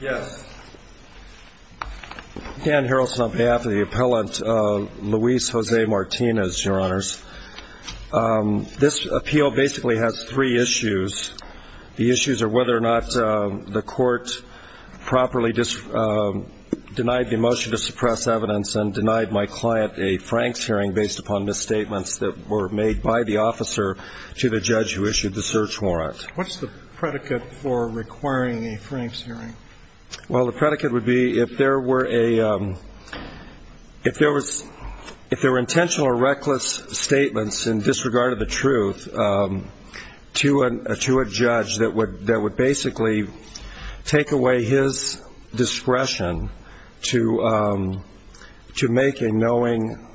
Yes. Dan Harrelson on behalf of the appellant, Luis Jose Martinez, your honors. This appeal basically has three issues. The issues are whether or not the court properly denied the motion to suppress evidence and denied my client a Franks hearing based upon misstatements that were made by the officer to the judge who issued the search warrant. What's the predicate for requiring a Franks hearing? Well, the predicate would be if there were intentional or reckless statements in disregard of the truth to a judge that would basically take away his discretion to make a knowing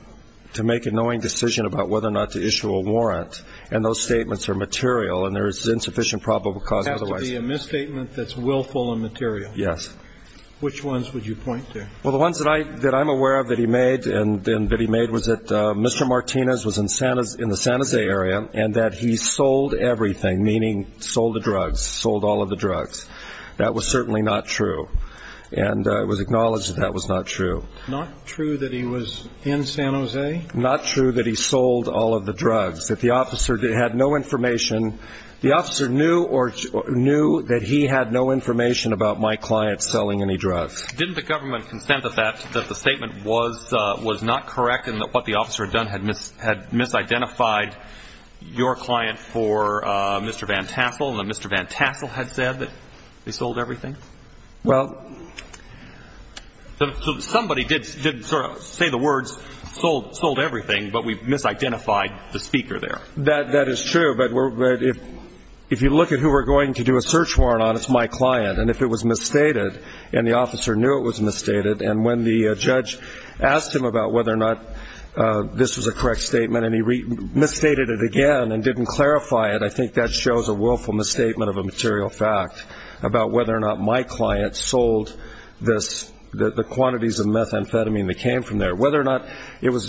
decision about whether or not to issue a warrant, and those statements are material and there is insufficient probable cause otherwise. It has to be a misstatement that's willful and material. Yes. Which ones would you point to? Well, the ones that I'm aware of that he made and that he made was that Mr. Martinez was in the San Jose area and that he sold everything, meaning sold the drugs, sold all of the drugs. That was certainly not true, and it was acknowledged that that was not true. Not true that he was in San Jose? Not true that he sold all of the drugs, that the officer had no information. The officer knew that he had no information about my client selling any drugs. Didn't the government consent that the statement was not correct and that what the officer had done had misidentified your client for Mr. Van Tassel and that Mr. Van Tassel had said that he sold everything? Well. So somebody did sort of say the words sold everything, but we've misidentified the speaker there. That is true, but if you look at who we're going to do a search warrant on, it's my client, and if it was misstated and the officer knew it was misstated, and when the judge asked him about whether or not this was a correct statement and he misstated it again and didn't clarify it, I think that shows a willful misstatement of a material fact about whether or not my client sold the quantities of methamphetamine that came from there. Whether or not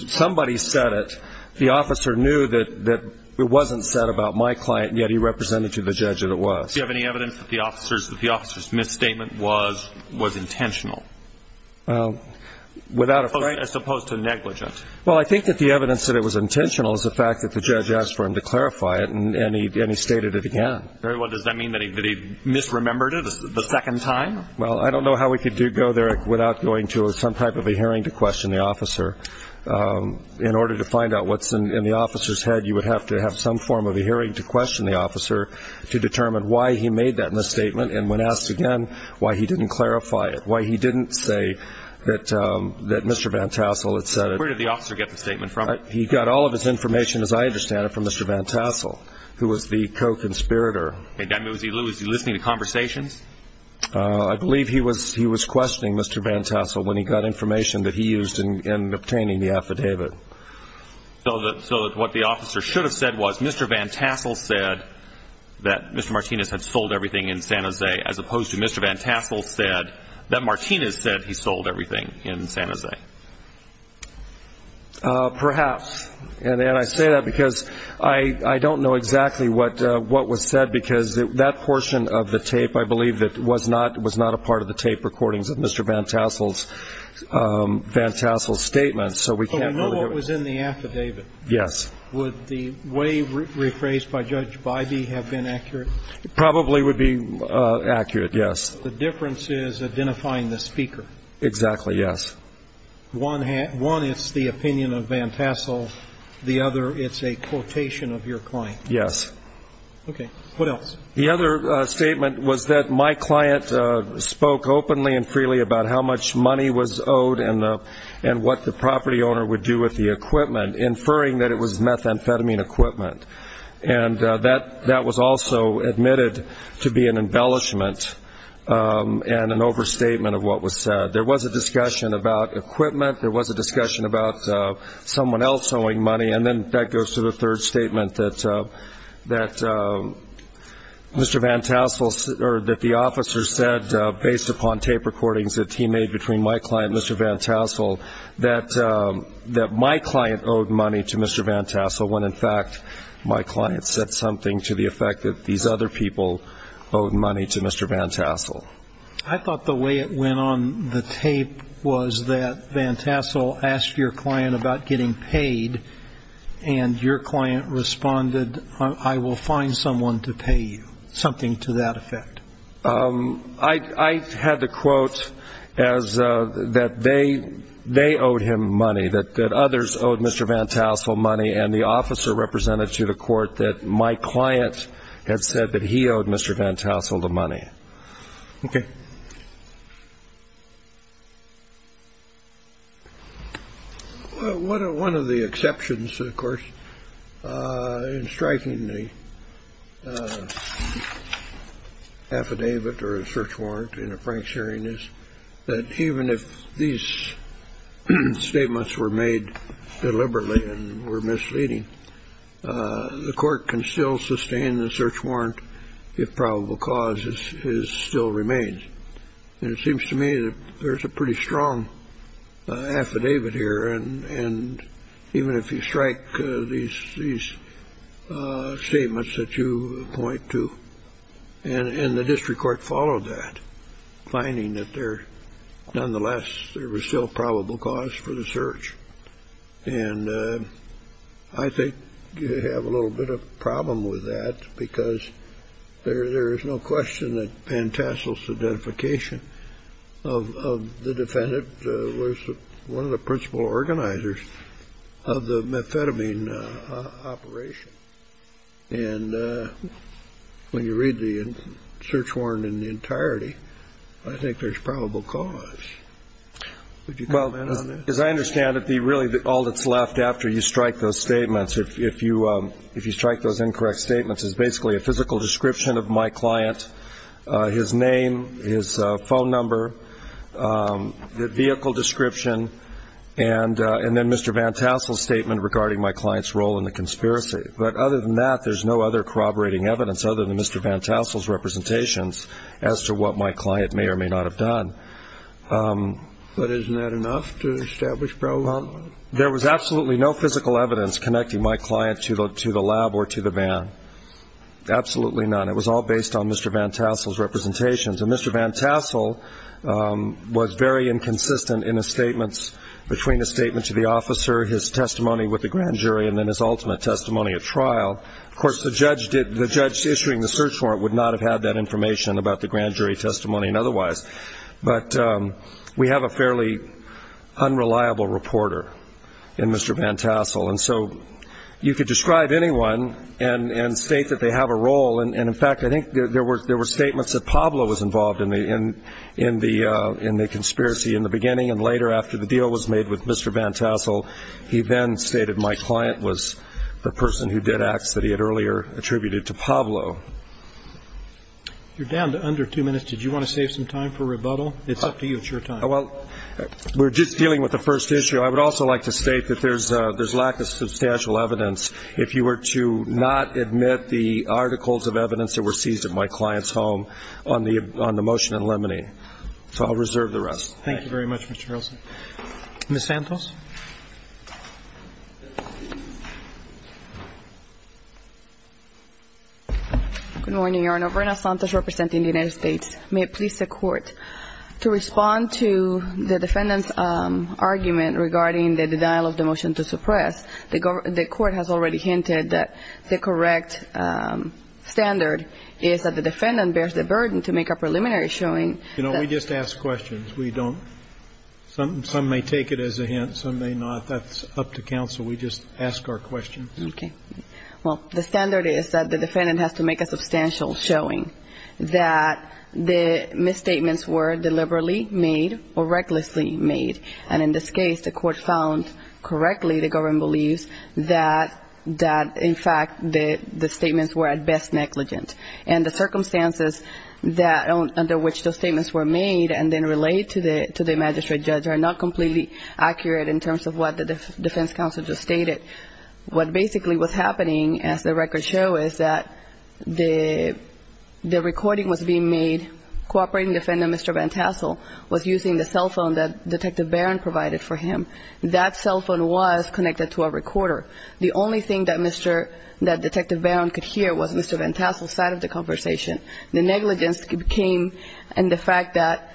somebody said it, the officer knew that it wasn't said about my client, and yet he represented to the judge that it was. Do you have any evidence that the officer's misstatement was intentional as opposed to negligent? Well, I think that the evidence that it was intentional is the fact that the judge asked for him to clarify it, and he stated it again. Does that mean that he misremembered it the second time? Well, I don't know how we could go there without going to some type of a hearing to question the officer. In order to find out what's in the officer's head, you would have to have some form of a hearing to question the officer to determine why he made that misstatement and when asked again why he didn't clarify it, why he didn't say that Mr. Van Tassel had said it. Where did the officer get the statement from? He got all of his information, as I understand it, from Mr. Van Tassel, who was the co-conspirator. Was he listening to conversations? I believe he was questioning Mr. Van Tassel when he got information that he used in obtaining the affidavit. So what the officer should have said was Mr. Van Tassel said that Mr. Martinez had sold everything in San Jose as opposed to Mr. Van Tassel said that Martinez said he sold everything in San Jose. Perhaps. And I say that because I don't know exactly what was said because that portion of the tape, I believe, was not a part of the tape recordings of Mr. Van Tassel's statements. So we can't really give it. But we know what was in the affidavit. Yes. Would the way rephrased by Judge Bybee have been accurate? It probably would be accurate, yes. The difference is identifying the speaker. Exactly, yes. One, it's the opinion of Van Tassel. The other, it's a quotation of your client. Yes. Okay. What else? The other statement was that my client spoke openly and freely about how much money was owed and what the property owner would do with the equipment, inferring that it was methamphetamine equipment. And that was also admitted to be an embellishment and an overstatement of what was said. There was a discussion about equipment. There was a discussion about someone else owing money. And then that goes to the third statement that Mr. Van Tassel or that the officer said, based upon tape recordings that he made between my client and Mr. Van Tassel, that my client owed money to Mr. Van Tassel when, in fact, my client said something to the effect that these other people owed money to Mr. Van Tassel. I thought the way it went on the tape was that Van Tassel asked your client about getting paid, and your client responded, I will find someone to pay you, something to that effect. I had to quote that they owed him money, that others owed Mr. Van Tassel money, and the officer represented to the court that my client had said that he owed Mr. Van Tassel the money. Okay. Well, one of the exceptions, of course, in striking the affidavit or a search warrant in a Frank's hearing is that even if these statements were made deliberately and were misleading, the court can still sustain the search warrant if probable cause still remains. And it seems to me that there's a pretty strong affidavit here, and even if you strike these statements that you point to, and the district court followed that, finding that there, nonetheless, there was still probable cause for the search. And I think you have a little bit of a problem with that because there is no question that Van Tassel's identification of the defendant was one of the principal organizers of the methamphetamine operation. And when you read the search warrant in the entirety, I think there's probable cause. Would you comment on that? Well, as I understand it, really all that's left after you strike those statements, if you strike those incorrect statements, is basically a physical description of my client, his name, his phone number, the vehicle description, and then Mr. Van Tassel's statement regarding my client's role in the conspiracy. But other than that, there's no other corroborating evidence, other than Mr. Van Tassel's representations as to what my client may or may not have done. But isn't that enough to establish probable cause? There was absolutely no physical evidence connecting my client to the lab or to the van. Absolutely none. It was all based on Mr. Van Tassel's representations. And Mr. Van Tassel was very inconsistent in his statements between a statement to the officer, his testimony with the grand jury, and then his ultimate testimony at trial. Of course, the judge issuing the search warrant would not have had that information about the grand jury testimony and otherwise. But we have a fairly unreliable reporter in Mr. Van Tassel. And so you could describe anyone and state that they have a role. And, in fact, I think there were statements that Pablo was involved in the conspiracy in the beginning, and later after the deal was made with Mr. Van Tassel, he then stated my client was the person who did acts that he had earlier attributed to Pablo. You're down to under two minutes. Did you want to save some time for rebuttal? It's up to you. It's your time. Well, we're just dealing with the first issue. I would also like to state that there's lack of substantial evidence. If you were to not admit the articles of evidence that were seized at my client's home on the motion in limine, so I'll reserve the rest. Thank you very much, Mr. Harrelson. Ms. Santos? Good morning, Your Honor. Governor Santos representing the United States. May it please the Court, to respond to the defendant's argument regarding the denial of the motion to suppress, the Court has already hinted that the correct standard is that the defendant bears the burden to make a preliminary showing. You know, we just ask questions. We don't – some may take it as a hint, some may not. That's up to counsel. We just ask our questions. Okay. Well, the standard is that the defendant has to make a substantial showing, that the misstatements were deliberately made or recklessly made, and in this case the Court found correctly, the government believes, that in fact the statements were at best negligent, and the circumstances under which those statements were made and then relayed to the magistrate judge are not completely accurate in terms of what the defense counsel just stated. What basically was happening, as the records show, is that the recording was being made, cooperating defendant Mr. Van Tassel was using the cell phone that Detective Barron provided for him. That cell phone was connected to a recorder. The only thing that Mr. – that Detective Barron could hear was Mr. Van Tassel's side of the conversation. The negligence came in the fact that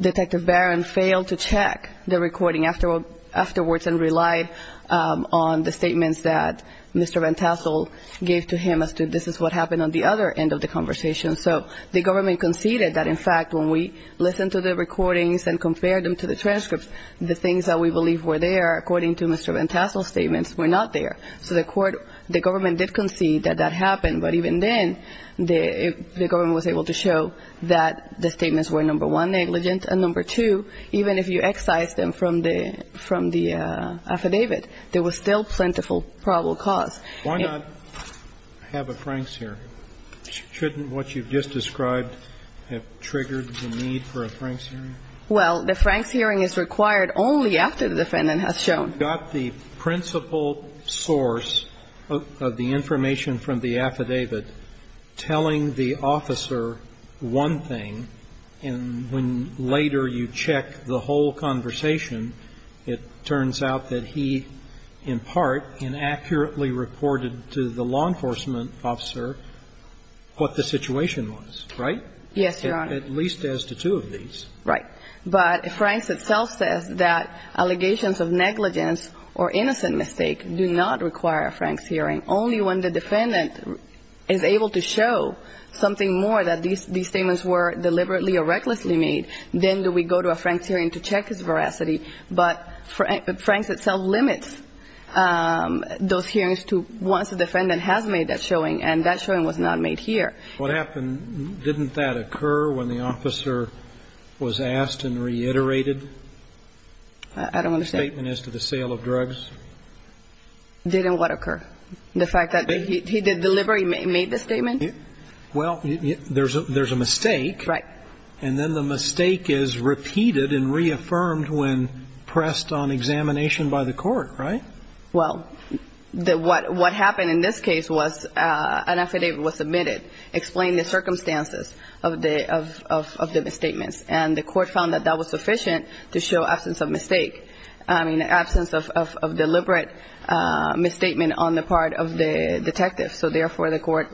Detective Barron failed to check the recording afterwards and relied on the statements that Mr. Van Tassel gave to him as to this is what happened on the other end of the conversation. So the government conceded that in fact when we listened to the recordings and compared them to the transcripts, the things that we believed were there, according to Mr. Van Tassel's statements, were not there. So the court – the government did concede that that happened, but even then the government was able to show that the statements were, number one, negligent, and number two, even if you excise them from the – from the affidavit, there was still plentiful probable cause. Why not have a Franks hearing? Shouldn't what you've just described have triggered the need for a Franks hearing? Well, the Franks hearing is required only after the defendant has shown. You've got the principal source of the information from the affidavit telling the officer one thing, and when later you check the whole conversation, it turns out that he in part inaccurately reported to the law enforcement officer what the situation was, right? Yes, Your Honor. At least as to two of these. Right. But Franks itself says that allegations of negligence or innocent mistake do not require a Franks hearing. Only when the defendant is able to show something more that these statements were deliberately or recklessly made, then do we go to a Franks hearing to check his veracity. But Franks itself limits those hearings to once the defendant has made that showing, and that showing was not made here. What happened? Didn't that occur when the officer was asked and reiterated? I don't understand. The statement as to the sale of drugs? Didn't what occur? The fact that he did deliberately made the statement? Well, there's a mistake. Right. And then the mistake is repeated and reaffirmed when pressed on examination by the court, right? Well, what happened in this case was an affidavit was submitted explaining the circumstances of the misstatements, and the court found that that was sufficient to show absence of mistake, I mean, absence of deliberate misstatement on the part of the detective. So, therefore, the court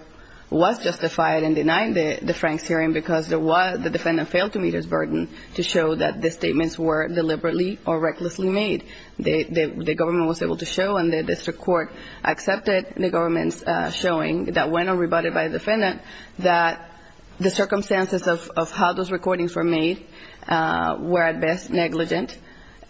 was justified in denying the Franks hearing because the defendant failed to meet his burden to show that the statements were deliberately or recklessly made. The government was able to show, and the district court accepted the government's showing that when rebutted by the defendant, that the circumstances of how those recordings were made were at best negligent.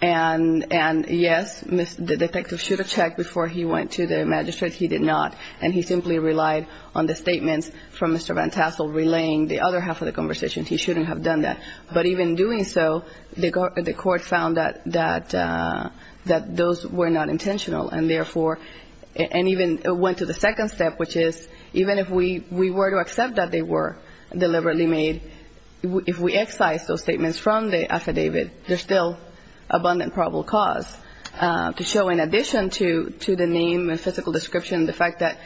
And, yes, the detective should have checked before he went to the magistrate. He did not. And he simply relied on the statements from Mr. Van Tassel relaying the other half of the conversation. He shouldn't have done that. But even doing so, the court found that those were not intentional. And, therefore, and even went to the second step, which is even if we were to accept that they were deliberately made, if we excise those statements from the affidavit, there's still abundant probable cause to show, in addition to the name and physical description, the fact that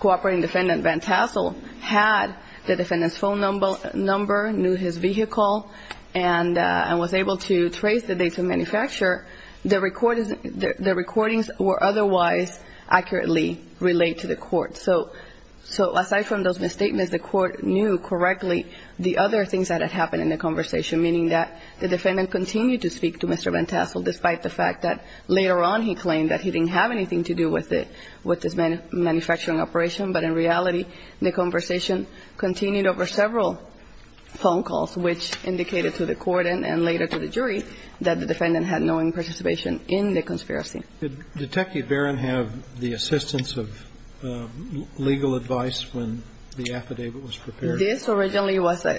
cooperating defendant Van Tassel had the defendant's phone number, knew his vehicle, and was able to trace the date of manufacture, the recordings were otherwise accurately relayed to the court. So, aside from those misstatements, the court knew correctly the other things that had happened in the conversation, meaning that the defendant continued to speak to Mr. Van Tassel, despite the fact that later on he claimed that he didn't have anything to do with it, with this manufacturing operation. But, in reality, the conversation continued over several phone calls, which indicated to the court and later to the jury that the defendant had no participation in the conspiracy. Did Detective Barron have the assistance of legal advice when the affidavit was prepared? This originally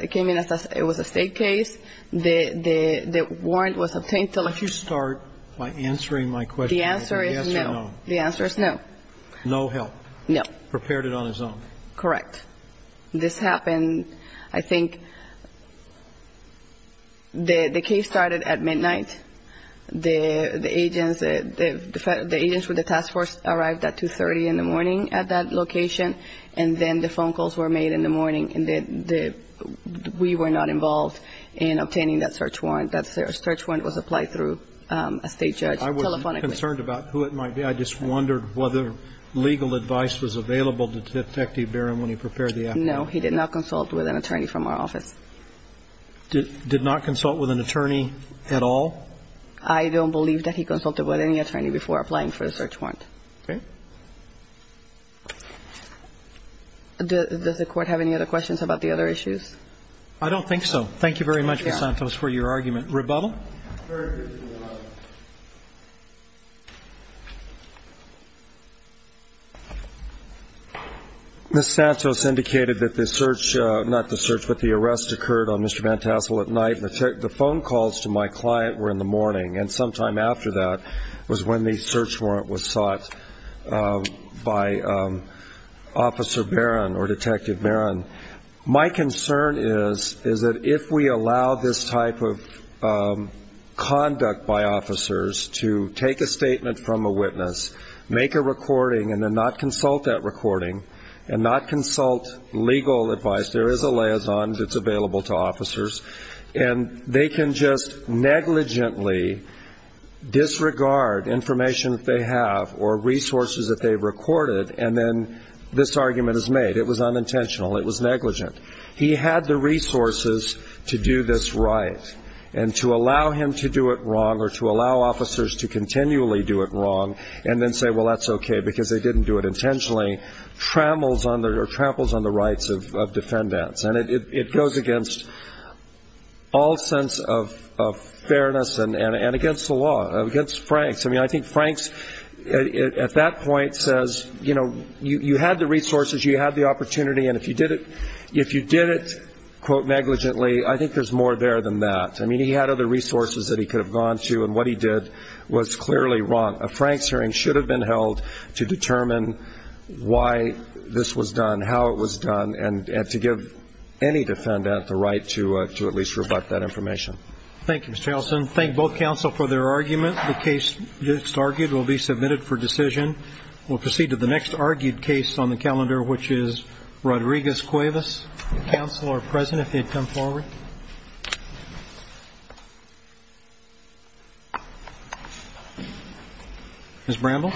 came in as a state case. The warrant was obtained to let you start by answering my question. The answer is no. The answer is no. No help. No. Prepared it on his own. Correct. This happened, I think, the case started at midnight. The agents with the task force arrived at 2.30 in the morning at that location, and then the phone calls were made in the morning, and we were not involved in obtaining that search warrant. That search warrant was applied through a state judge telephonically. I was concerned about who it might be. I just wondered whether legal advice was available to Detective Barron when he prepared the affidavit. No, he did not consult with an attorney from our office. Did not consult with an attorney at all? I don't believe that he consulted with any attorney before applying for the search warrant. Okay. Does the Court have any other questions about the other issues? I don't think so. Thank you very much, Ms. Santos, for your argument. Rebuttal? Very briefly, Your Honor. Ms. Santos indicated that the search, not the search, but the arrest occurred on Mr. Van Tassel at night. The phone calls to my client were in the morning, and sometime after that was when the search warrant was sought. By Officer Barron or Detective Barron. My concern is that if we allow this type of conduct by officers to take a statement from a witness, make a recording, and then not consult that recording, and not consult legal advice, there is a liaison that's available to officers, and they can just negligently disregard information that they have or resources that they've recorded, and then this argument is made. It was unintentional. It was negligent. He had the resources to do this right, and to allow him to do it wrong or to allow officers to continually do it wrong and then say, well, that's okay because they didn't do it intentionally, tramples on the rights of defendants. And it goes against all sense of fairness and against the law, against Franks. I mean, I think Franks at that point says, you know, you had the resources, you had the opportunity, and if you did it, quote, negligently, I think there's more there than that. I mean, he had other resources that he could have gone to, and what he did was clearly wrong. A Franks hearing should have been held to determine why this was done, how it was done, and to give any defendant the right to at least rebut that information. Thank you, Mr. Allison. Thank both counsel for their argument. The case just argued will be submitted for decision. We'll proceed to the next argued case on the calendar, which is Rodriguez-Cuevas. Counsel are present if they'd come forward. Ms. Bramble.